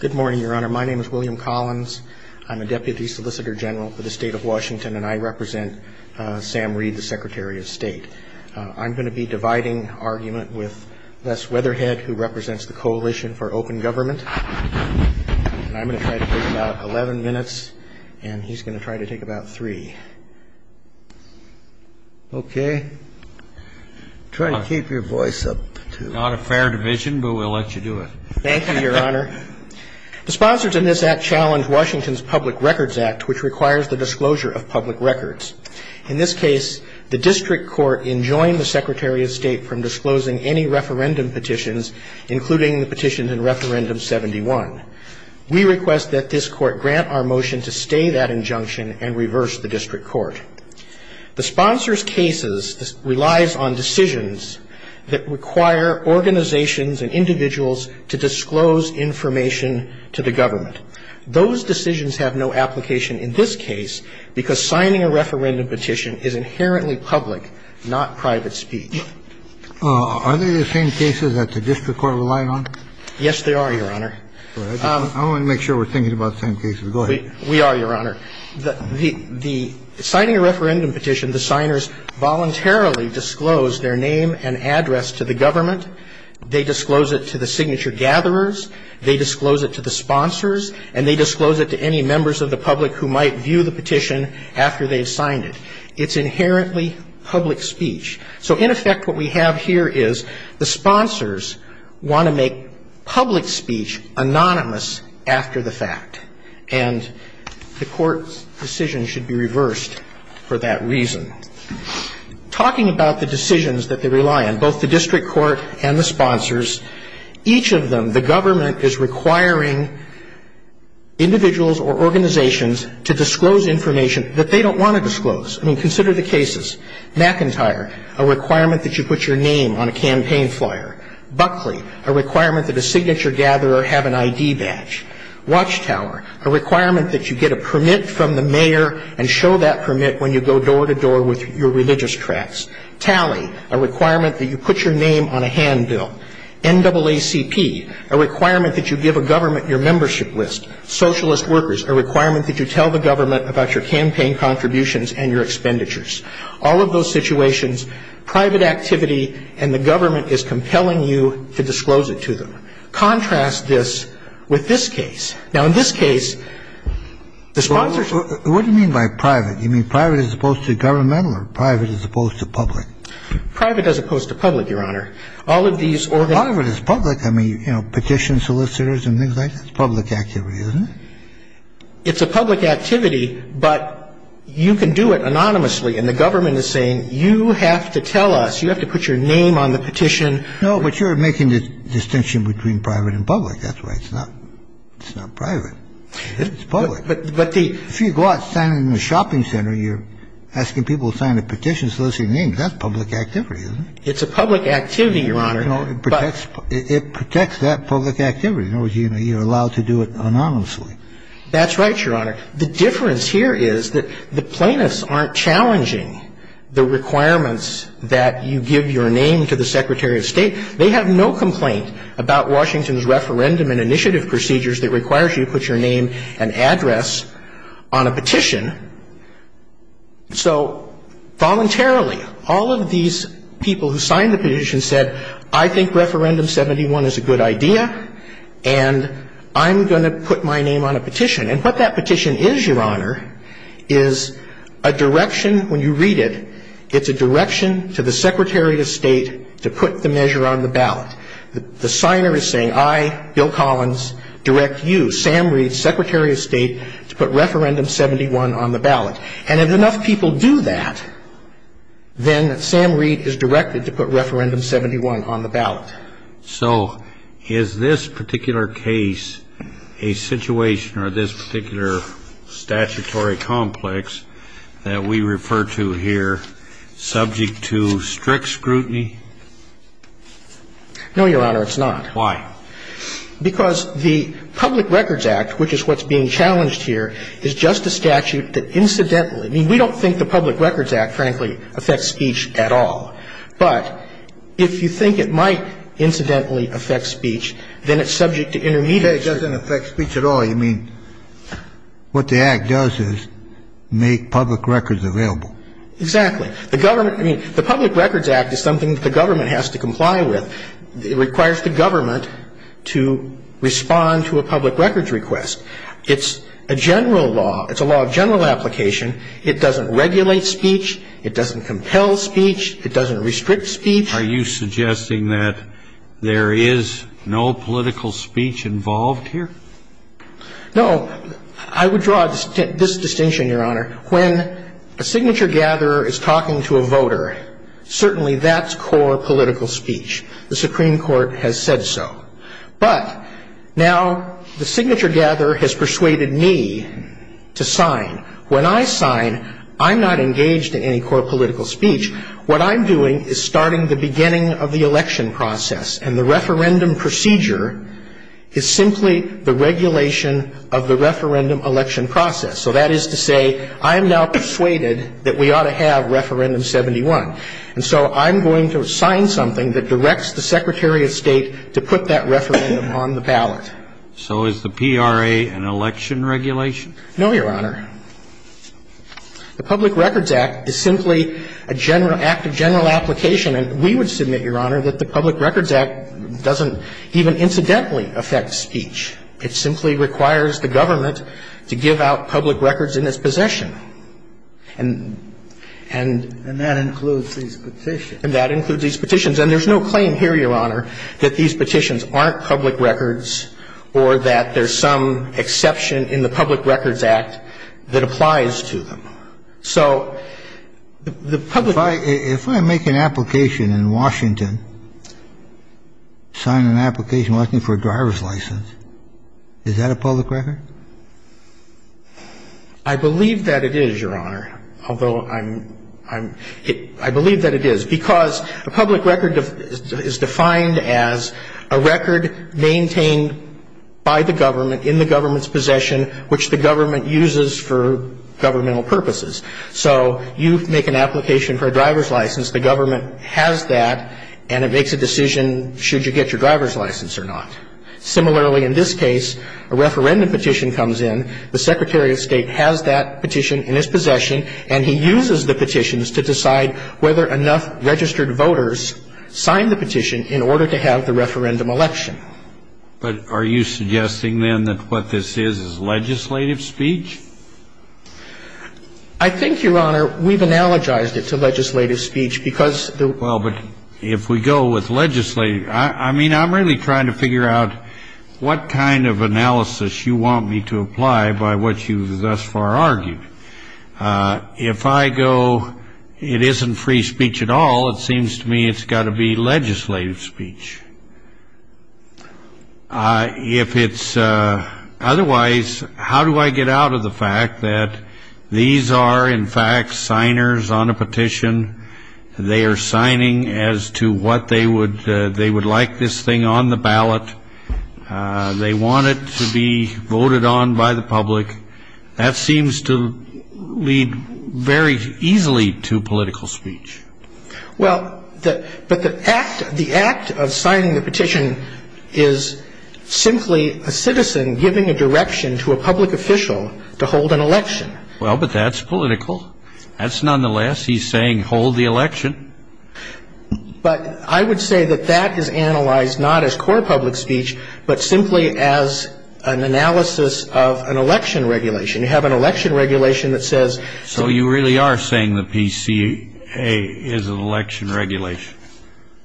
Good morning, Your Honor. My name is William Collins. I'm a Deputy Solicitor General for the State of Washington, and I represent Sam Reed, the Secretary of State. I'm going to be dividing argument with Les Weatherhead, who represents the Coalition for Open Government. I'm going to try to take about 11 minutes, and he's going to try to take about three. Okay. Try to keep your voice up, too. Not a fair division, but we'll let you do it. Thank you, Your Honor. The sponsors in this act challenge Washington's Public Records Act, which requires the disclosure of public records. In this case, the district court enjoined the Secretary of State from disclosing any referendum petitions, including the petitions in Referendum 71. We request that this court grant our motion to stay that injunction and reverse the district court. The sponsors' cases relies on decisions that require organizations and individuals to disclose information to the government. Those decisions have no application in this case because signing a referendum petition is inherently public, not private speech. Are they the same cases that the district court relied on? Yes, they are, Your Honor. I want to make sure we're thinking about the same cases. Go ahead. We are, Your Honor. The signing a referendum petition, the signers voluntarily disclose their name and address to the government. They disclose it to the signature gatherers. They disclose it to the sponsors. And they disclose it to any members of the public who might view the petition after they've signed it. It's inherently public speech. So in effect, what we have here is the sponsors want to make public speech anonymous after the fact. And the court's decision should be reversed for that reason. Talking about the decisions that they rely on, both the district court and the sponsors, each of them, the government is requiring individuals or organizations to disclose information that they don't want to disclose. I mean, consider the cases. McIntyre, a requirement that you put your name on a campaign flyer. Buckley, a requirement that a signature gatherer have an I.D. badge. Watchtower, a requirement that you get a permit from the mayor and show that permit when you go door to door with your religious tracts. Tally, a requirement that you put your name on a handbill. NAACP, a requirement that you give a government your membership list. Socialist workers, a requirement that you tell the government about your campaign contributions and your expenditures. All of those situations, private activity, and the government is compelling you to disclose it to them. Contrast this with this case. Now, in this case, the sponsors ---- What do you mean by private? You mean private as opposed to governmental or private as opposed to public? Private as opposed to public, Your Honor. All of these organizations ---- It's a public activity, but you can do it anonymously, and the government is saying you have to tell us, you have to put your name on the petition. No, but you're making the distinction between private and public. That's right. It's not private. It's public. But the ---- If you go out standing in a shopping center, you're asking people to sign a petition, so those are your names. That's public activity, isn't it? It's a public activity, Your Honor, but ---- It protects that public activity. In other words, you're allowed to do it anonymously. That's right, Your Honor. The difference here is that the plaintiffs aren't challenging the requirements that you give your name to the Secretary of State. They have no complaint about Washington's referendum and initiative procedures that requires you to put your name and address on a petition. So voluntarily, all of these people who signed the petition said, I think Referendum 71 is a good idea, and I'm going to put my name on a petition. And what that petition is, Your Honor, is a direction when you read it, it's a direction to the Secretary of State to put the measure on the ballot. The signer is saying, I, Bill Collins, direct you, Sam Reed, Secretary of State, to put Referendum 71 on the ballot. And if enough people do that, then Sam Reed is directed to put Referendum 71 on the ballot. So is this particular case a situation or this particular statutory complex that we refer to here subject to strict scrutiny? No, Your Honor, it's not. Why? Because the Public Records Act, which is what's being challenged here, is just a statute that incidentally I mean, we don't think the Public Records Act, frankly, affects speech at all. But if you think it might incidentally affect speech, then it's subject to intermediate It doesn't affect speech at all. I mean, what the Act does is make public records available. Exactly. The government, I mean, the Public Records Act is something that the government has to comply with. It requires the government to respond to a public records request. It's a general law. It's a law of general application. It doesn't regulate speech. It doesn't compel speech. It doesn't restrict speech. Are you suggesting that there is no political speech involved here? No. I would draw this distinction, Your Honor. When a signature gatherer is talking to a voter, certainly that's core political speech. The Supreme Court has said so. But now the signature gatherer has persuaded me to sign. When I sign, I'm not engaged in any core political speech. What I'm doing is starting the beginning of the election process. And the referendum procedure is simply the regulation of the referendum election process. So that is to say, I am now persuaded that we ought to have Referendum 71. And so I'm going to sign something that directs the Secretary of State to put that referendum on the ballot. So is the PRA an election regulation? No, Your Honor. The Public Records Act is simply a general act of general application. And we would submit, Your Honor, that the Public Records Act doesn't even incidentally affect speech. It simply requires the government to give out public records in its possession. And that includes these petitions. And that includes these petitions. And there's no claim here, Your Honor, that these petitions aren't public records or that there's some exception in the Public Records Act that applies to them. So the Public Records Act doesn't do that. If I make an application in Washington, sign an application asking for a driver's license, is that a public record? I believe that it is, Your Honor, although I'm ‑‑ I believe that it is. Because a public record is defined as a record maintained by the government in the government's possession which the government uses for governmental purposes. So you make an application for a driver's license, the government has that, and it makes a decision should you get your driver's license or not. Similarly, in this case, a referendum petition comes in, the Secretary of State has that petition in his possession, and he uses the petitions to decide whether enough registered voters signed the petition in order to have the referendum election. But are you suggesting, then, that what this is is legislative speech? I think, Your Honor, we've analogized it to legislative speech because the ‑‑ Well, but if we go with legislative ‑‑ I mean, I'm really trying to figure out what kind of analysis you want me to apply by what you thus far argued. If I go it isn't free speech at all, it seems to me it's got to be legislative speech. If it's otherwise, how do I get out of the fact that these are, in fact, signers on a petition, they are signing as to what they would ‑‑ they would like this thing on the ballot, they want it to be voted on by the public, that seems to lead very easily to political speech. Well, but the act of signing the petition is simply a citizen giving a direction to a public official to hold an election. Well, but that's political. That's nonetheless. He's saying hold the election. But I would say that that is analyzed not as core public speech, but simply as an analysis of an election regulation. You have an election regulation that says ‑‑ So you really are saying the PCA is an election regulation?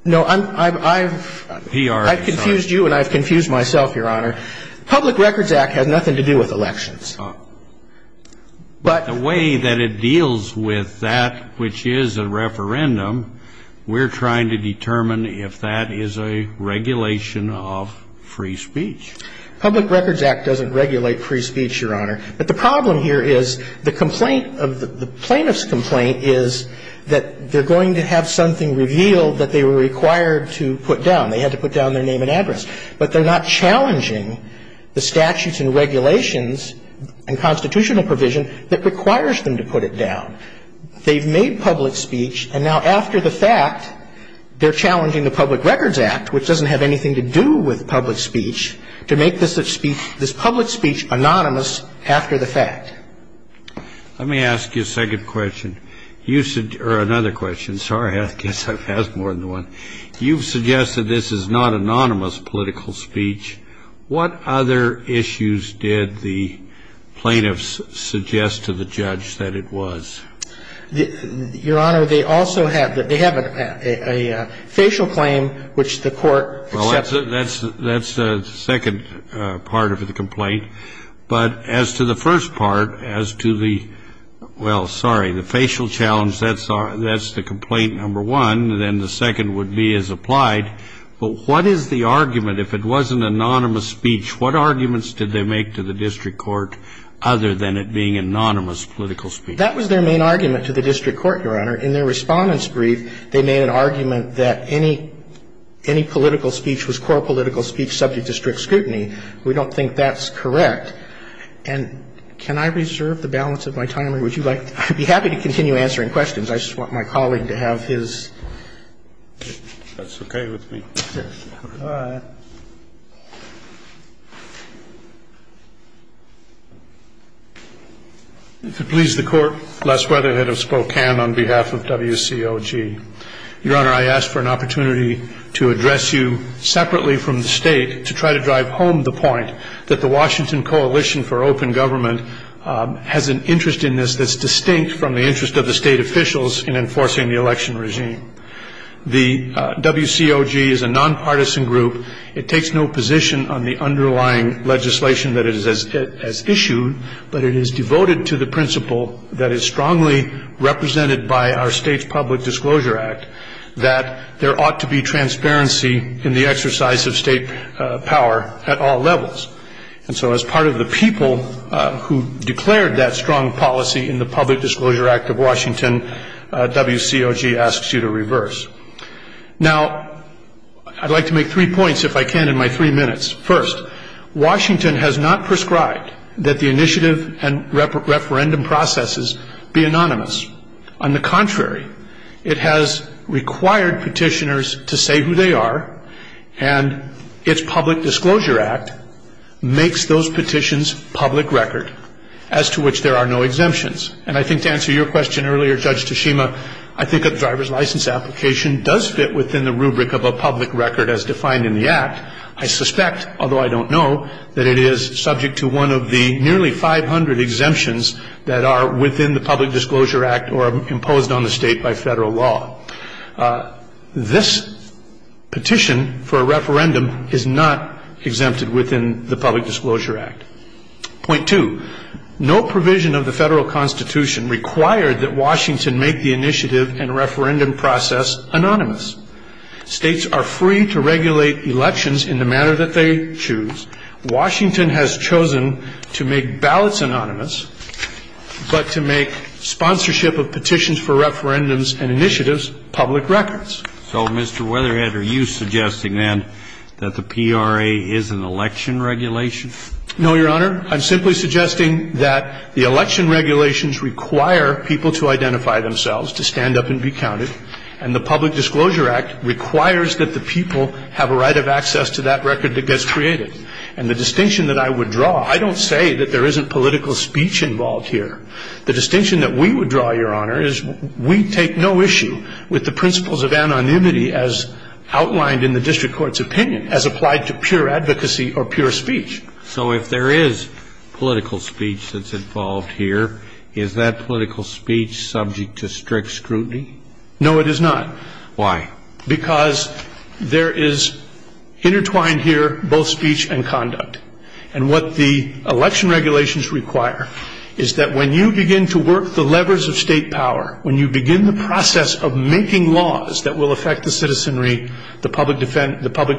No, I'm ‑‑ I've ‑‑ PR is not. I've confused you and I've confused myself, Your Honor. Public Records Act has nothing to do with elections. Oh. But ‑‑ The way that it deals with that which is a referendum, we're trying to determine if that is a regulation of free speech. Public Records Act doesn't regulate free speech, Your Honor. But the problem here is the complaint of ‑‑ the plaintiff's complaint is that they're going to have something revealed that they were required to put down. They had to put down their name and address. But they're not challenging the statutes and regulations and constitutional provision that requires them to put it down. They've made public speech, and now after the fact, they're challenging the Public Records Act, which doesn't have anything to do with public speech, to make this public speech anonymous after the fact. Let me ask you a second question. You said ‑‑ or another question. Sorry, I guess I've asked more than one. You've suggested this is not anonymous political speech. What other issues did the plaintiffs suggest to the judge that it was? Your Honor, they also have ‑‑ they have a facial claim which the court accepted. Well, that's the second part of the complaint. But as to the first part, as to the ‑‑ well, sorry, the facial challenge, that's the complaint number one, and then the second would be as applied. But what is the argument, if it wasn't anonymous speech, what arguments did they make to the district court other than it being anonymous political speech? That was their main argument to the district court, Your Honor. In their Respondent's Brief, they made an argument that any political speech was core political speech subject to strict scrutiny. We don't think that's correct. And can I reserve the balance of my time, or would you like to ‑‑ I'd be happy to continue answering questions. I just want my colleague to have his. That's okay with me. All right. If it pleases the Court, Les Weatherhead of Spokane on behalf of WCOG. Your Honor, I ask for an opportunity to address you separately from the State to try to drive home the point that the Washington Coalition for Open Government has an interest in this that's distinct from the interest of the State officials in enforcing the election regime. The WCOG is a nonpartisan group. It takes no position on the underlying legislation that it has issued, but it is devoted to the principle that is strongly represented by our State's Public Disclosure Act, that there ought to be transparency in the exercise of State power at all levels. And so as part of the people who declared that strong policy in the Public Disclosure Act of Washington, WCOG asks you to reverse. Now, I'd like to make three points, if I can, in my three minutes. First, Washington has not prescribed that the initiative and referendum processes be anonymous. On the contrary, it has required petitioners to say who they are, and its Public Disclosure Act makes those petitions public record, as to which there are no exemptions. And I think to answer your question earlier, Judge Tashima, I think a driver's license application does fit within the rubric of a public record as defined in the Act. I suspect, although I don't know, that it is subject to one of the nearly 500 exemptions that are within the Public Disclosure Act or imposed on the State by Federal law. This petition for a referendum is not exempted within the Public Disclosure Act. Point two, no provision of the Federal Constitution required that Washington make the initiative and referendum process anonymous. States are free to regulate elections in the manner that they choose. Washington has chosen to make ballots anonymous, but to make sponsorship of petitions for referendums and initiatives public records. So, Mr. Weatherhead, are you suggesting, then, that the PRA is an election regulation? No, Your Honor. I'm simply suggesting that the election regulations require people to identify themselves, to stand up and be counted, and the Public Disclosure Act requires that the people have a right of access to that record that gets created. And the distinction that I would draw, I don't say that there isn't political speech involved here. The distinction that we would draw, Your Honor, is we take no issue with the principles of anonymity as outlined in the district court's opinion as applied to pure advocacy or pure speech. So if there is political speech that's involved here, is that political speech subject to strict scrutiny? No, it is not. Why? Because there is intertwined here both speech and conduct. And what the election regulations require is that when you begin to work the levers of state power, when you begin the process of making laws that will affect the citizenry, the Public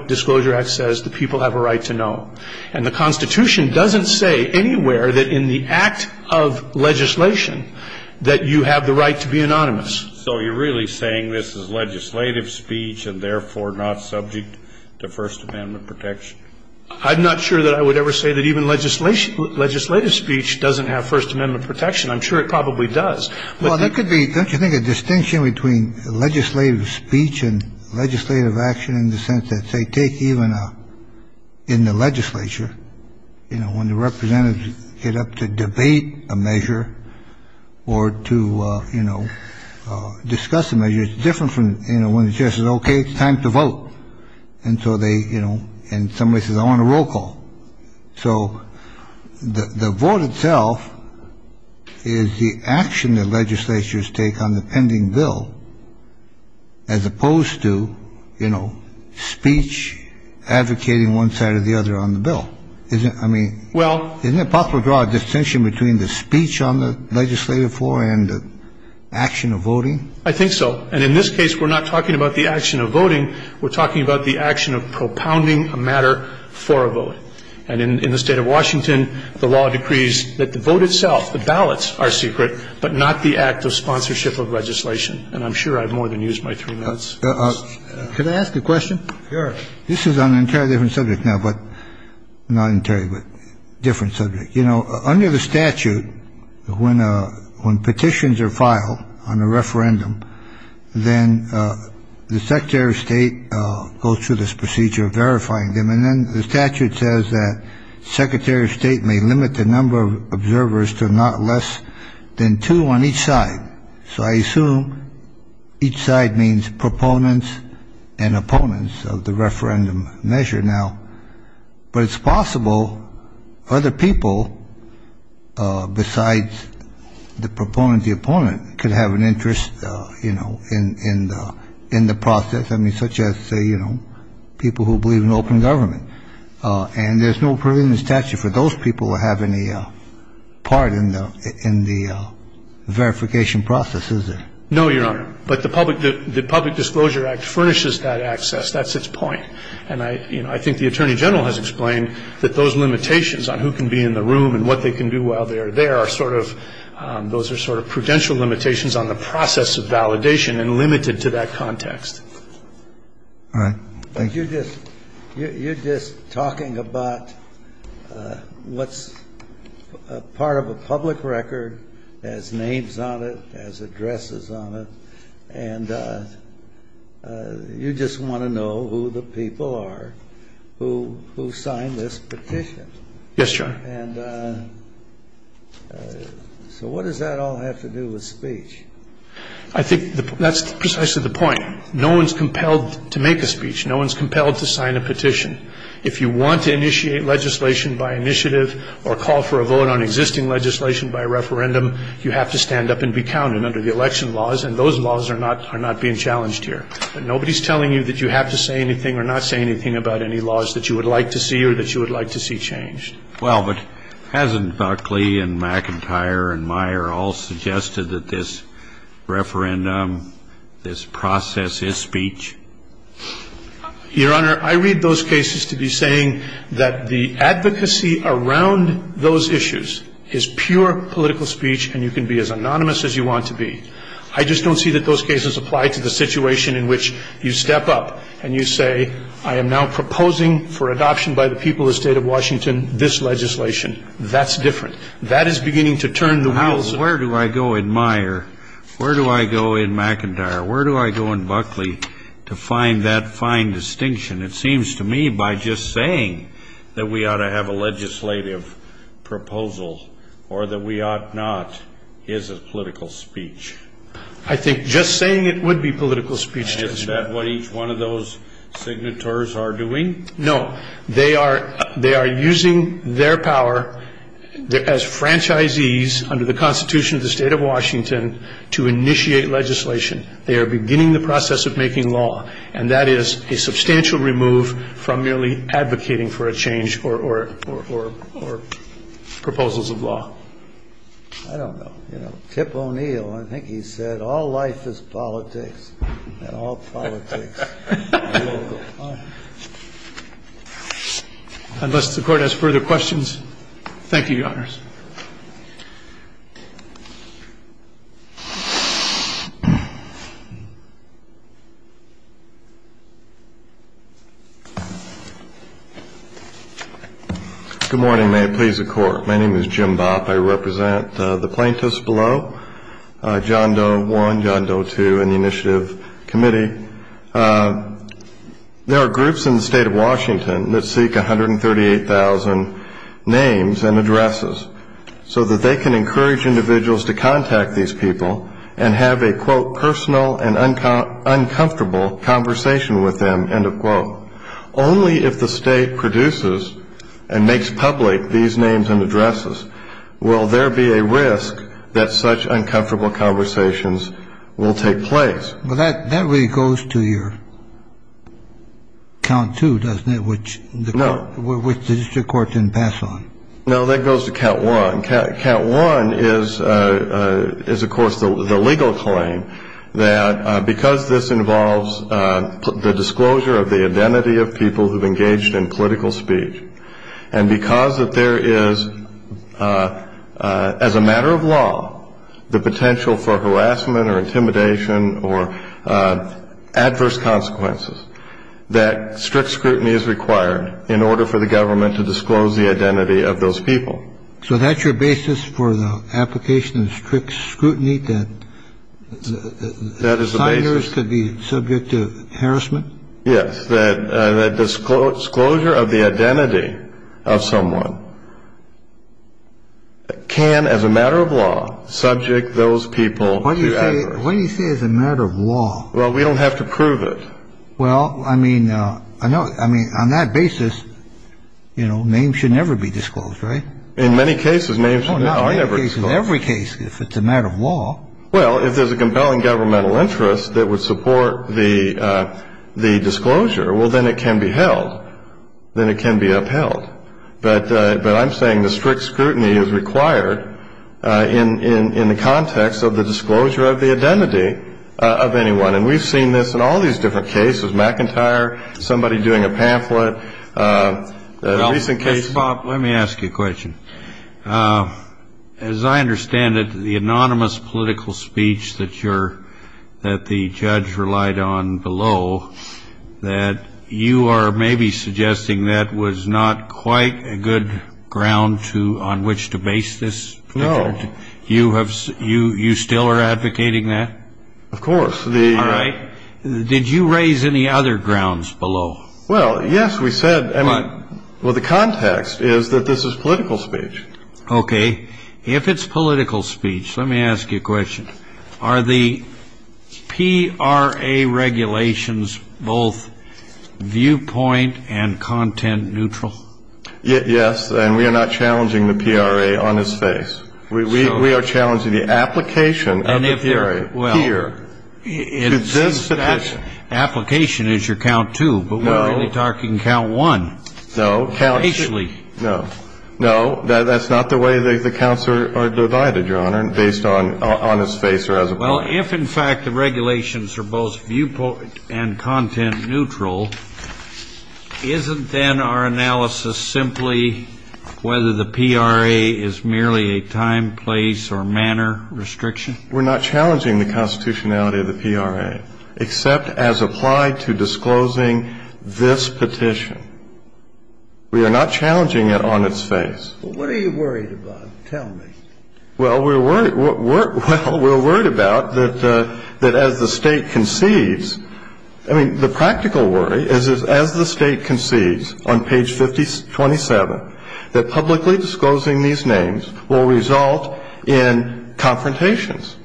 Disclosure Act says the people have a right to know. And the Constitution doesn't say anywhere that in the act of legislation that you have the right to be anonymous. So you're really saying this is legislative speech and, therefore, not subject to First Amendment protection? I'm not sure that I would ever say that even legislative speech doesn't have First Amendment protection. I'm sure it probably does. Well, that could be, don't you think, a distinction between legislative speech and legislative action in the sense that they take even in the legislature, you know, when the representatives get up to debate a measure or to, you know, discuss a measure. It's different from, you know, when the chair says, okay, it's time to vote. And so they, you know, and somebody says, I want a roll call. So the vote itself is the action that legislatures take on the pending bill as opposed to, you know, speech advocating one side or the other on the bill. I mean, isn't it possible to draw a distinction between the speech on the legislative floor and the action of voting? I think so. And in this case, we're not talking about the action of voting. We're talking about the action of propounding a matter for a vote. And in the State of Washington, the law decrees that the vote itself, the ballots, are secret, but not the act of sponsorship of legislation. And I'm sure I've more than used my three minutes. Could I ask a question? Sure. This is on an entirely different subject now, but not entirely, but different subject. You know, under the statute, when petitions are filed on a referendum, then the Secretary of State goes through this procedure of verifying them. And then the statute says that Secretary of State may limit the number of observers to not less than two on each side. So I assume each side means proponents and opponents of the referendum measure now. But it's possible other people besides the proponent, the opponent, could have an interest, you know, in the process. I mean, such as, say, you know, people who believe in open government. And there's no provision in the statute for those people to have any part in the verification process, is there? No, Your Honor. But the Public Disclosure Act furnishes that access. That's its point. And I, you know, I think the Attorney General has explained that those limitations on who can be in the room and what they can do while they are there are sort of, those are sort of prudential limitations on the process of validation and limited to that context. All right. Thank you. You're just talking about what's part of a public record, has names on it, has addresses on it. And you just want to know who the people are who signed this petition. Yes, Your Honor. And so what does that all have to do with speech? I think that's precisely the point. No one's compelled to make a speech. No one's compelled to sign a petition. If you want to initiate legislation by initiative or call for a vote on existing legislation by referendum, you have to stand up and be counted under the election laws, and those laws are not being challenged here. But nobody's telling you that you have to say anything or not say anything about any laws that you would like to see or that you would like to see changed. Well, but hasn't Buckley and McIntyre and Meyer all suggested that this referendum, this process is speech? Your Honor, I read those cases to be saying that the advocacy around those issues is pure political speech and you can be as anonymous as you want to be. I just don't see that those cases apply to the situation in which you step up and you say, I am now proposing for adoption by the people of the state of Washington this legislation. That's different. That is beginning to turn the wheels. Well, where do I go in Meyer, where do I go in McIntyre, where do I go in Buckley to find that fine distinction? It seems to me by just saying that we ought to have a legislative proposal or that we ought not is a political speech. I think just saying it would be political speech. And is that what each one of those signatories are doing? No. They are using their power as franchisees under the Constitution of the state of Washington to initiate legislation. They are beginning the process of making law. And that is a substantial remove from merely advocating for a change or proposals of law. I don't know. You know, Tip O'Neill, I think he said, all life is politics, and all politics is political. Unless the Court has further questions. Thank you, Your Honors. Good morning. May it please the Court. My name is Jim Bopp. I represent the plaintiffs below, John Doe I, John Doe II, and the Initiative Committee. There are groups in the state of Washington that seek 138,000 names and addresses so that they can encourage individuals to contact these people and have a, quote, personal and uncomfortable conversation with them, end of quote. Only if the state produces and makes public these names and addresses will there be a risk that such uncomfortable conversations will take place. Well, that really goes to your count two, doesn't it, which the district court didn't pass on. No, that goes to count one. Count one is, of course, the legal claim that because this involves the disclosure of the identity of people who have engaged in political speech and because there is, as a matter of law, the potential for harassment or intimidation or adverse consequences, that strict scrutiny is required in order for the government to disclose the identity of those people. So that's your basis for the application of strict scrutiny, that signers could be subject to harassment? Yes, that disclosure of the identity of someone can, as a matter of law, subject those people. Why do you say as a matter of law? Well, we don't have to prove it. Well, I mean, I mean, on that basis, you know, names should never be disclosed, right? In many cases, names are never disclosed. In every case, if it's a matter of law. Well, if there's a compelling governmental interest that would support the disclosure, well, then it can be held. Then it can be upheld. But I'm saying the strict scrutiny is required in the context of the disclosure of the identity of anyone. And we've seen this in all these different cases, McIntyre, somebody doing a pamphlet. Mr. Bob, let me ask you a question. As I understand it, the anonymous political speech that the judge relied on below, that you are maybe suggesting that was not quite a good ground on which to base this? No. You still are advocating that? Of course. All right. Did you raise any other grounds below? Well, yes, we said. Well, the context is that this is political speech. Okay. If it's political speech, let me ask you a question. Are the PRA regulations both viewpoint and content neutral? Yes, and we are not challenging the PRA on its face. We are challenging the application of the PRA. Well, that application is your count two, but we're really talking count one. No. Facially. No. No, that's not the way the counts are divided, Your Honor, based on its face or as a point. Well, if, in fact, the regulations are both viewpoint and content neutral, isn't then our analysis simply whether the PRA is merely a time, place, or manner restriction? We're not challenging the constitutionality of the PRA, except as applied to disclosing this petition. We are not challenging it on its face. Well, what are you worried about? Tell me. Well, we're worried about that as the State concedes, I mean, the practical worry is as the State concedes on page 57, that publicly disclosing these names will result in confrontations.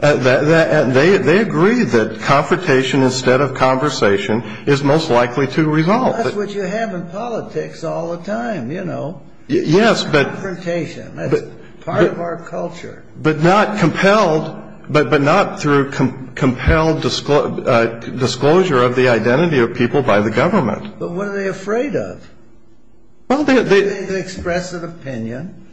They agree that confrontation instead of conversation is most likely to result. That's what you have in politics all the time, you know. Yes, but. Confrontation. That's part of our culture. But not through compelled disclosure of the identity of people by the government. But what are they afraid of? Well, they. They can express an opinion,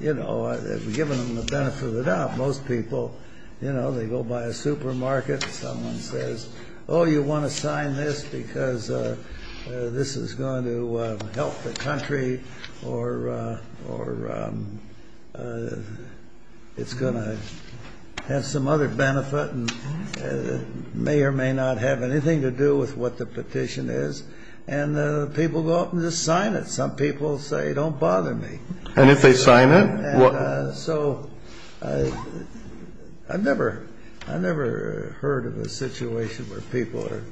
you know, giving them the benefit of the doubt. Most people, you know, they go by a supermarket and someone says, oh, you want to sign this because this is going to help the country or it's going to have some other benefit and may or may not have anything to do with what the petition is. And people go up and just sign it. Some people say, don't bother me. And if they sign it? So I've never heard of a situation where people are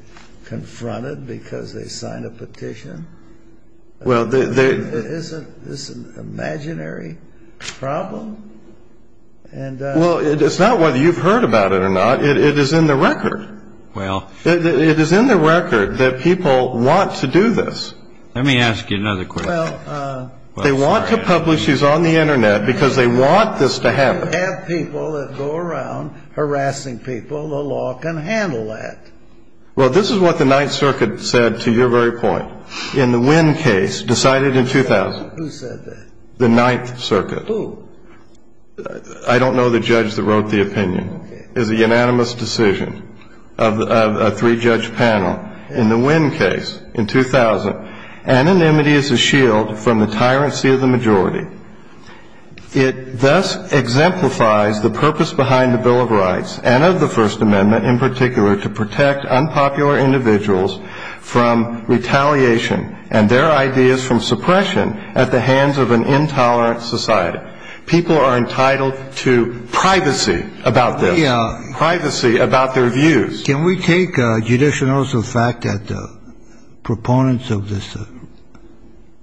confronted because they sign a petition. Well, they. Isn't this an imaginary problem? Well, it's not whether you've heard about it or not. It is in the record. Well. It is in the record that people want to do this. Let me ask you another question. Well. They want to publish these on the Internet because they want this to happen. You have people that go around harassing people. The law can handle that. Well, this is what the Ninth Circuit said to your very point. In the Wynn case decided in 2000. Who said that? The Ninth Circuit. Who? I don't know the judge that wrote the opinion. It was a unanimous decision of a three-judge panel. In the Wynn case in 2000, anonymity is a shield from the tyrancy of the majority. It thus exemplifies the purpose behind the Bill of Rights and of the First Amendment in particular to protect unpopular individuals from retaliation and their ideas from suppression at the hands of an intolerant society. People are entitled to privacy about this. Privacy about their views. Can we take judicial notice of the fact that the proponents of this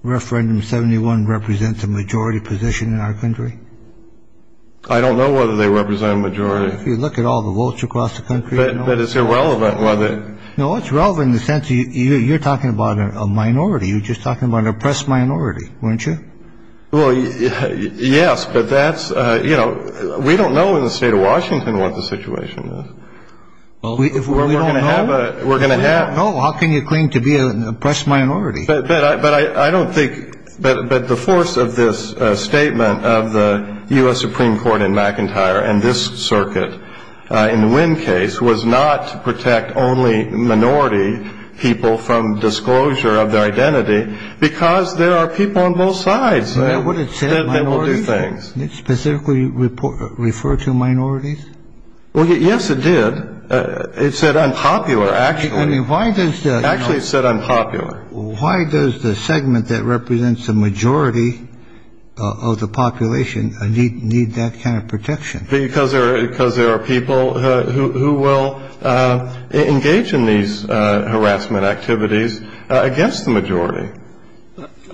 referendum 71 represents a majority position in our country? I don't know whether they represent a majority. If you look at all the votes across the country. But it's irrelevant whether. No, it's relevant in the sense you're talking about a minority. You're just talking about an oppressed minority, weren't you? Well, yes. But that's you know, we don't know in the state of Washington what the situation is. Well, if we're going to have a we're going to have. Oh, how can you claim to be an oppressed minority? But I don't think. But the force of this statement of the U.S. Supreme Court in McIntyre and this circuit in the Wynn case was not to protect only minority people from disclosure of their identity because there are people on both sides. I would have said that will do things specifically refer to minorities. Well, yes, it did. It said unpopular. Actually, I mean, why does that actually said unpopular? Why does the segment that represents the majority of the population need that kind of protection? Because there are because there are people who will engage in these harassment activities against the majority.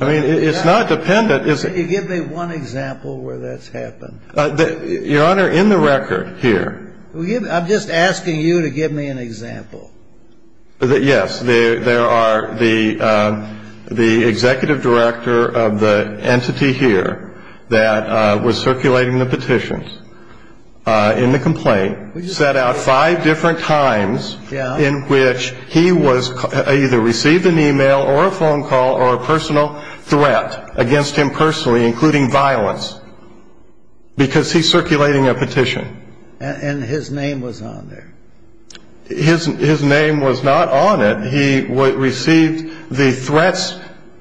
I mean, it's not dependent. Give me one example where that's happened. Your Honor, in the record here. I'm just asking you to give me an example. Yes. There are the the executive director of the entity here that was circulating the petitions in the complaint set out five different times in which he was either received an e-mail or a phone call or a personal threat against him personally, including violence. Because he's circulating a petition. And his name was on there. His name was not on it. He received the threats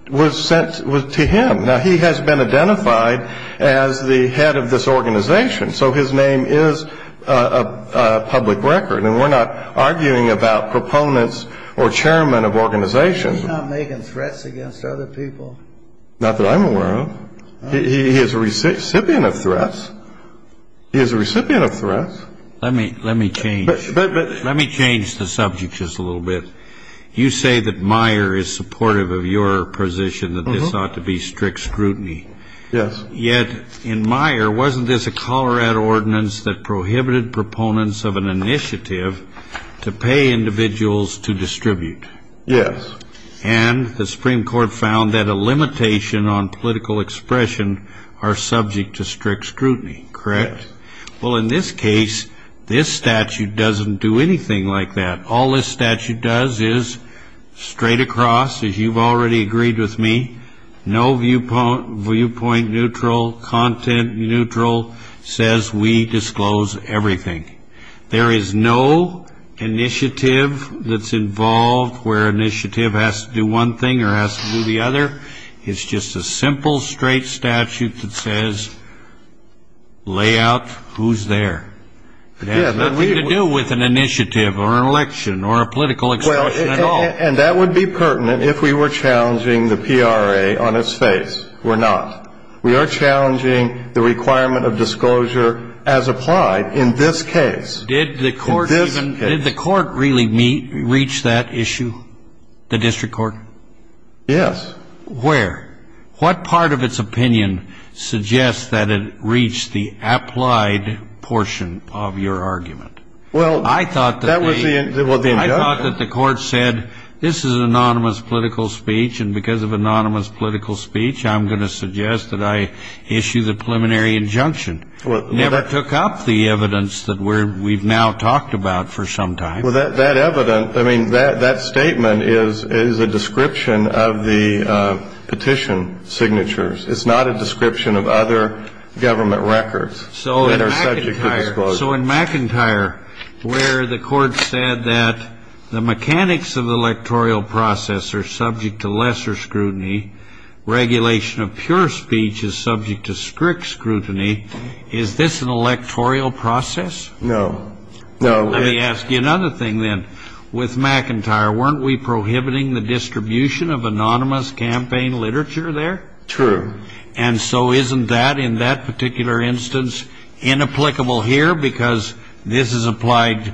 was sent to him. Now, he has been identified as the head of this organization. So his name is a public record. And we're not arguing about proponents or chairman of organizations. He's not making threats against other people. Not that I'm aware of. He is a recipient of threats. He is a recipient of threats. Let me change the subject just a little bit. You say that Meyer is supportive of your position that this ought to be strict scrutiny. Yes. Yet in Meyer, wasn't this a Colorado ordinance that prohibited proponents of an initiative to pay individuals to distribute? Yes. And the Supreme Court found that a limitation on political expression are subject to strict scrutiny. Correct? Correct. Well, in this case, this statute doesn't do anything like that. All this statute does is straight across, as you've already agreed with me, no viewpoint neutral, content neutral says we disclose everything. There is no initiative that's involved where initiative has to do one thing or has to do the other. It's just a simple, straight statute that says lay out who's there. It has nothing to do with an initiative or an election or a political expression at all. And that would be pertinent if we were challenging the PRA on its face. We're not. We are challenging the requirement of disclosure as applied in this case. Did the court really reach that issue, the district court? Yes. Where? What part of its opinion suggests that it reached the applied portion of your argument? Well, that was the injunction. I thought that the court said this is anonymous political speech, and because of anonymous political speech I'm going to suggest that I issue the preliminary injunction. Never took up the evidence that we've now talked about for some time. Well, that statement is a description of the petition signatures. It's not a description of other government records that are subject to disclosure. So in McIntyre, where the court said that the mechanics of the electoral process are subject to lesser scrutiny, regulation of pure speech is subject to strict scrutiny, is this an electoral process? No. Let me ask you another thing then. With McIntyre, weren't we prohibiting the distribution of anonymous campaign literature there? True. And so isn't that, in that particular instance, inapplicable here because this is applied?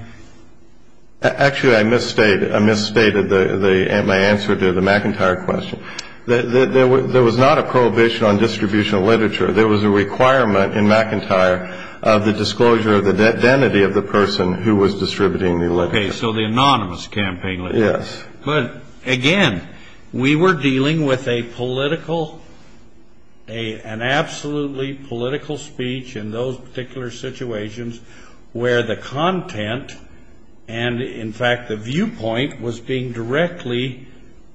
Actually, I misstated my answer to the McIntyre question. There was not a prohibition on distribution of literature. There was a requirement in McIntyre of the disclosure of the identity of the person who was distributing the literature. Okay, so the anonymous campaign literature. Yes. But, again, we were dealing with a political, an absolutely political speech in those particular situations where the content and, in fact, the viewpoint was being directly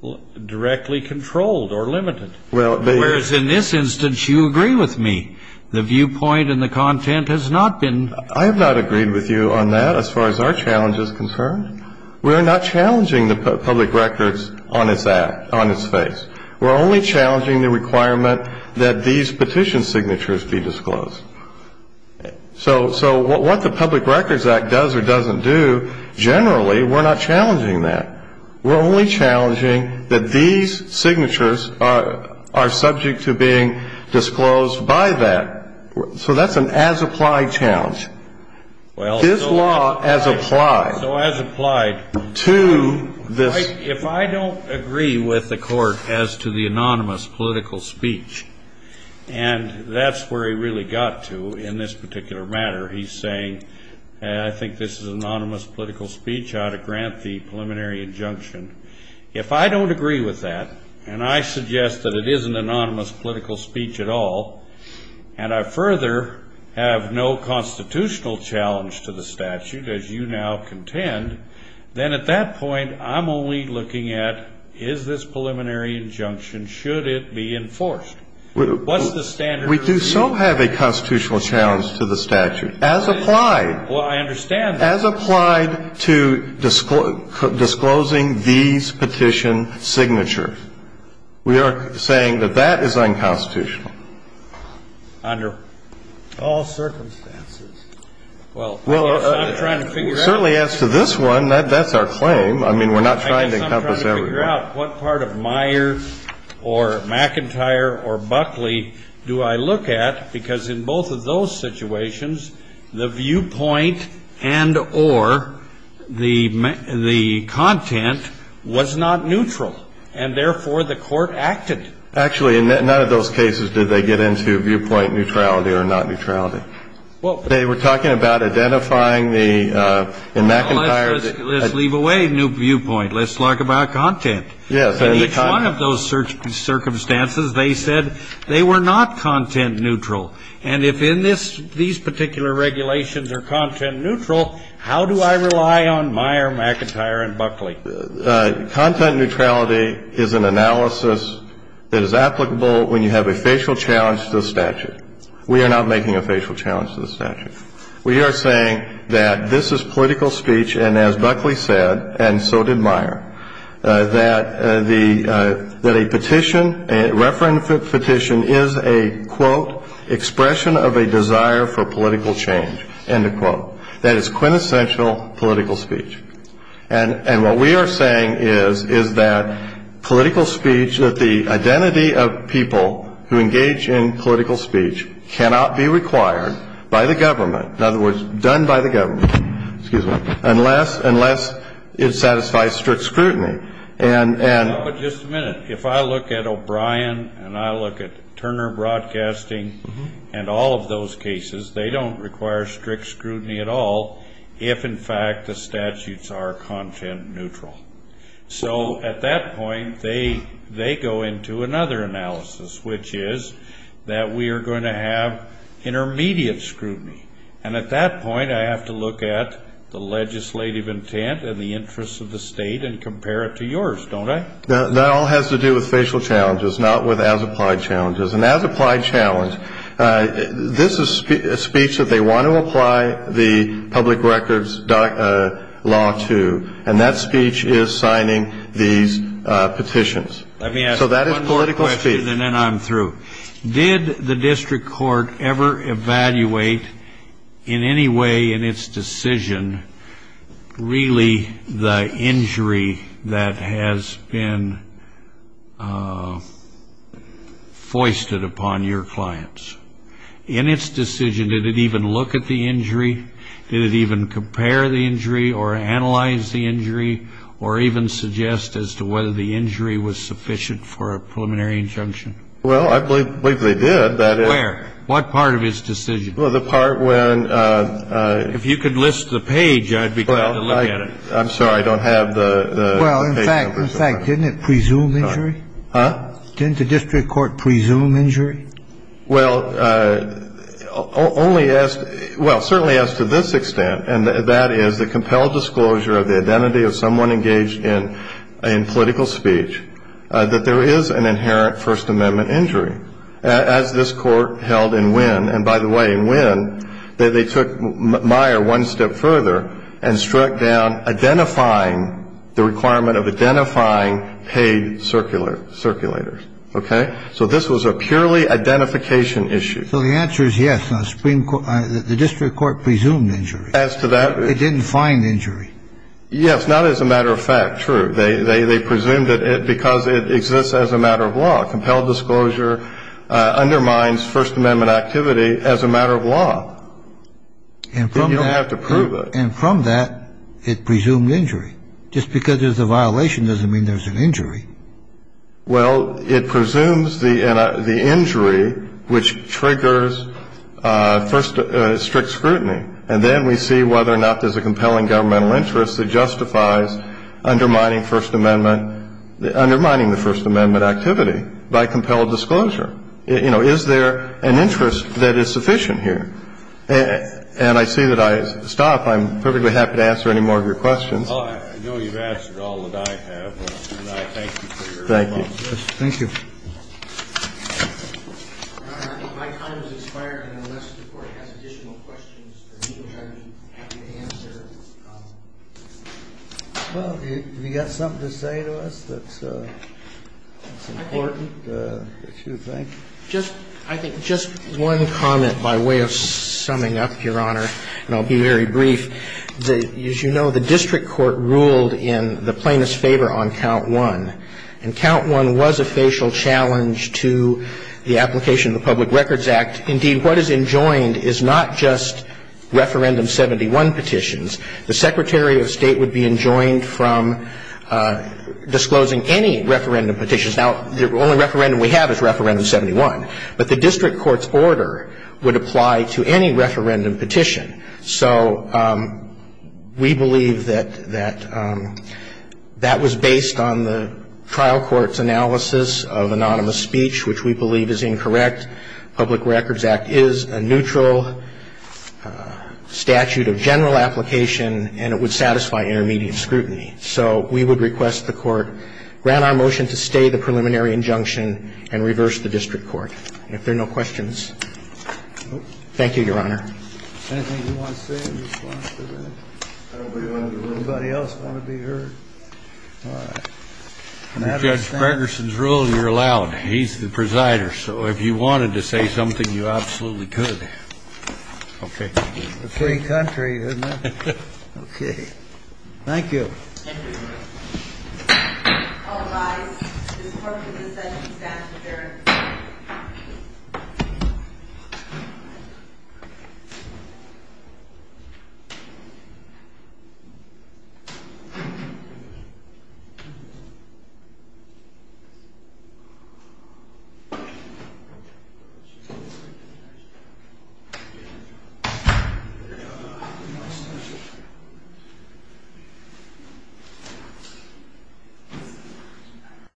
controlled or limited. Whereas in this instance, you agree with me. The viewpoint and the content has not been. I have not agreed with you on that as far as our challenge is concerned. We are not challenging the Public Records on its act, on its face. We're only challenging the requirement that these petition signatures be disclosed. So what the Public Records Act does or doesn't do, generally, we're not challenging that. We're only challenging that these signatures are subject to being disclosed by that. So that's an as-applied challenge. This law as applied. So as applied. To this. If I don't agree with the Court as to the anonymous political speech, and that's where he really got to in this particular matter, he's saying, I think this is an anonymous political speech. I ought to grant the preliminary injunction. If I don't agree with that, and I suggest that it is an anonymous political speech at all, and I further have no constitutional challenge to the statute, as you now contend, then at that point, I'm only looking at, is this preliminary injunction, should it be enforced? What's the standard review? We so have a constitutional challenge to the statute. As applied. Well, I understand that. As applied to disclosing these petition signatures. We are saying that that is unconstitutional. Under all circumstances. Well, I guess I'm trying to figure out. Certainly as to this one, that's our claim. I mean, we're not trying to encompass everybody. I'm trying to figure out what part of Meyer or McIntyre or Buckley do I look at? Because in both of those situations, the viewpoint and or the content was not neutral. And therefore, the Court acted. Actually, in none of those cases did they get into viewpoint neutrality or not neutrality. They were talking about identifying the McIntyre. Let's leave away new viewpoint. Let's talk about content. Yes. In each one of those circumstances, they said they were not content neutral. And if in this, these particular regulations are content neutral, how do I rely on Meyer, McIntyre and Buckley? Content neutrality is an analysis that is applicable when you have a facial challenge to the statute. We are not making a facial challenge to the statute. We are saying that this is political speech, and as Buckley said, and so did Meyer, that a petition, a referendum petition is a, quote, expression of a desire for political change, end of quote. That is quintessential political speech. And what we are saying is, is that political speech, that the identity of people who engage in political speech cannot be required by the government, in other words, done by the government, unless it satisfies strict scrutiny. But just a minute. If I look at O'Brien and I look at Turner Broadcasting and all of those cases, they don't require strict scrutiny at all if, in fact, the statutes are content neutral. So at that point, they go into another analysis, which is that we are going to have intermediate scrutiny. And at that point, I have to look at the legislative intent and the interests of the state and compare it to yours, don't I? That all has to do with facial challenges, not with as-applied challenges. An as-applied challenge, this is a speech that they want to apply the public records law to, and that speech is signing these petitions. So that is political speech. Let me ask one more question and then I'm through. Did the district court ever evaluate in any way in its decision really the injury that has been foisted upon your clients? In its decision, did it even look at the injury? Did it even compare the injury or analyze the injury or even suggest as to whether the injury was sufficient for a preliminary injunction? Well, I believe they did. Where? What part of its decision? Well, the part when the ---- If you could list the page, I'd be glad to look at it. Well, I'm sorry. I don't have the page numbers. Well, in fact, didn't it presume injury? Huh? Didn't the district court presume injury? Well, only as to ---- well, certainly as to this extent, and that is the compelled disclosure of the identity of someone engaged in political speech, that there is an inherent First Amendment injury. As this court held in Wynn, and by the way, in Wynn, they took Meyer one step further and struck down identifying the requirement of identifying paid circulators. Okay? So this was a purely identification issue. So the answer is yes. The district court presumed injury. As to that ---- It didn't find injury. Yes, not as a matter of fact. True. They presumed it because it exists as a matter of law. Compelled disclosure undermines First Amendment activity as a matter of law. Then you don't have to prove it. And from that, it presumed injury. Just because there's a violation doesn't mean there's an injury. Well, it presumes the injury, which triggers first strict scrutiny. And then we see whether or not there's a compelling governmental interest that justifies undermining First Amendment ---- undermining the First Amendment activity by compelled disclosure. You know, is there an interest that is sufficient here? And I see that I stopped. I'm perfectly happy to answer any more of your questions. Oh, I know you've answered all that I have. And I thank you for your response. Thank you. Thank you. Your Honor, I think my time has expired. And unless the Court has additional questions for me, which I would be happy to answer. Well, have you got something to say to us that's important that you think? I think just one comment by way of summing up, Your Honor, and I'll be very brief. As you know, the district court ruled in the plaintiff's favor on Count 1. And Count 1 was a facial challenge to the application of the Public Records Act. Indeed, what is enjoined is not just Referendum 71 petitions. The Secretary of State would be enjoined from disclosing any referendum petitions. Now, the only referendum we have is Referendum 71. But the district court's order would apply to any referendum petition. So we believe that that was based on the trial court's analysis of anonymous speech, which we believe is incorrect. Public Records Act is a neutral statute of general application, and it would satisfy intermediate scrutiny. So we would request the Court grant our motion to stay the preliminary injunction and reverse the district court. If there are no questions. Thank you, Your Honor. Anything you want to say in response to that? Anybody else want to be heard? All right. Under Judge Ferguson's rule, you're allowed. He's the presider. So if you wanted to say something, you absolutely could. Okay. A free country, isn't it? Okay. Thank you. All rise. Judge Ferguson is at his answer. Thank you.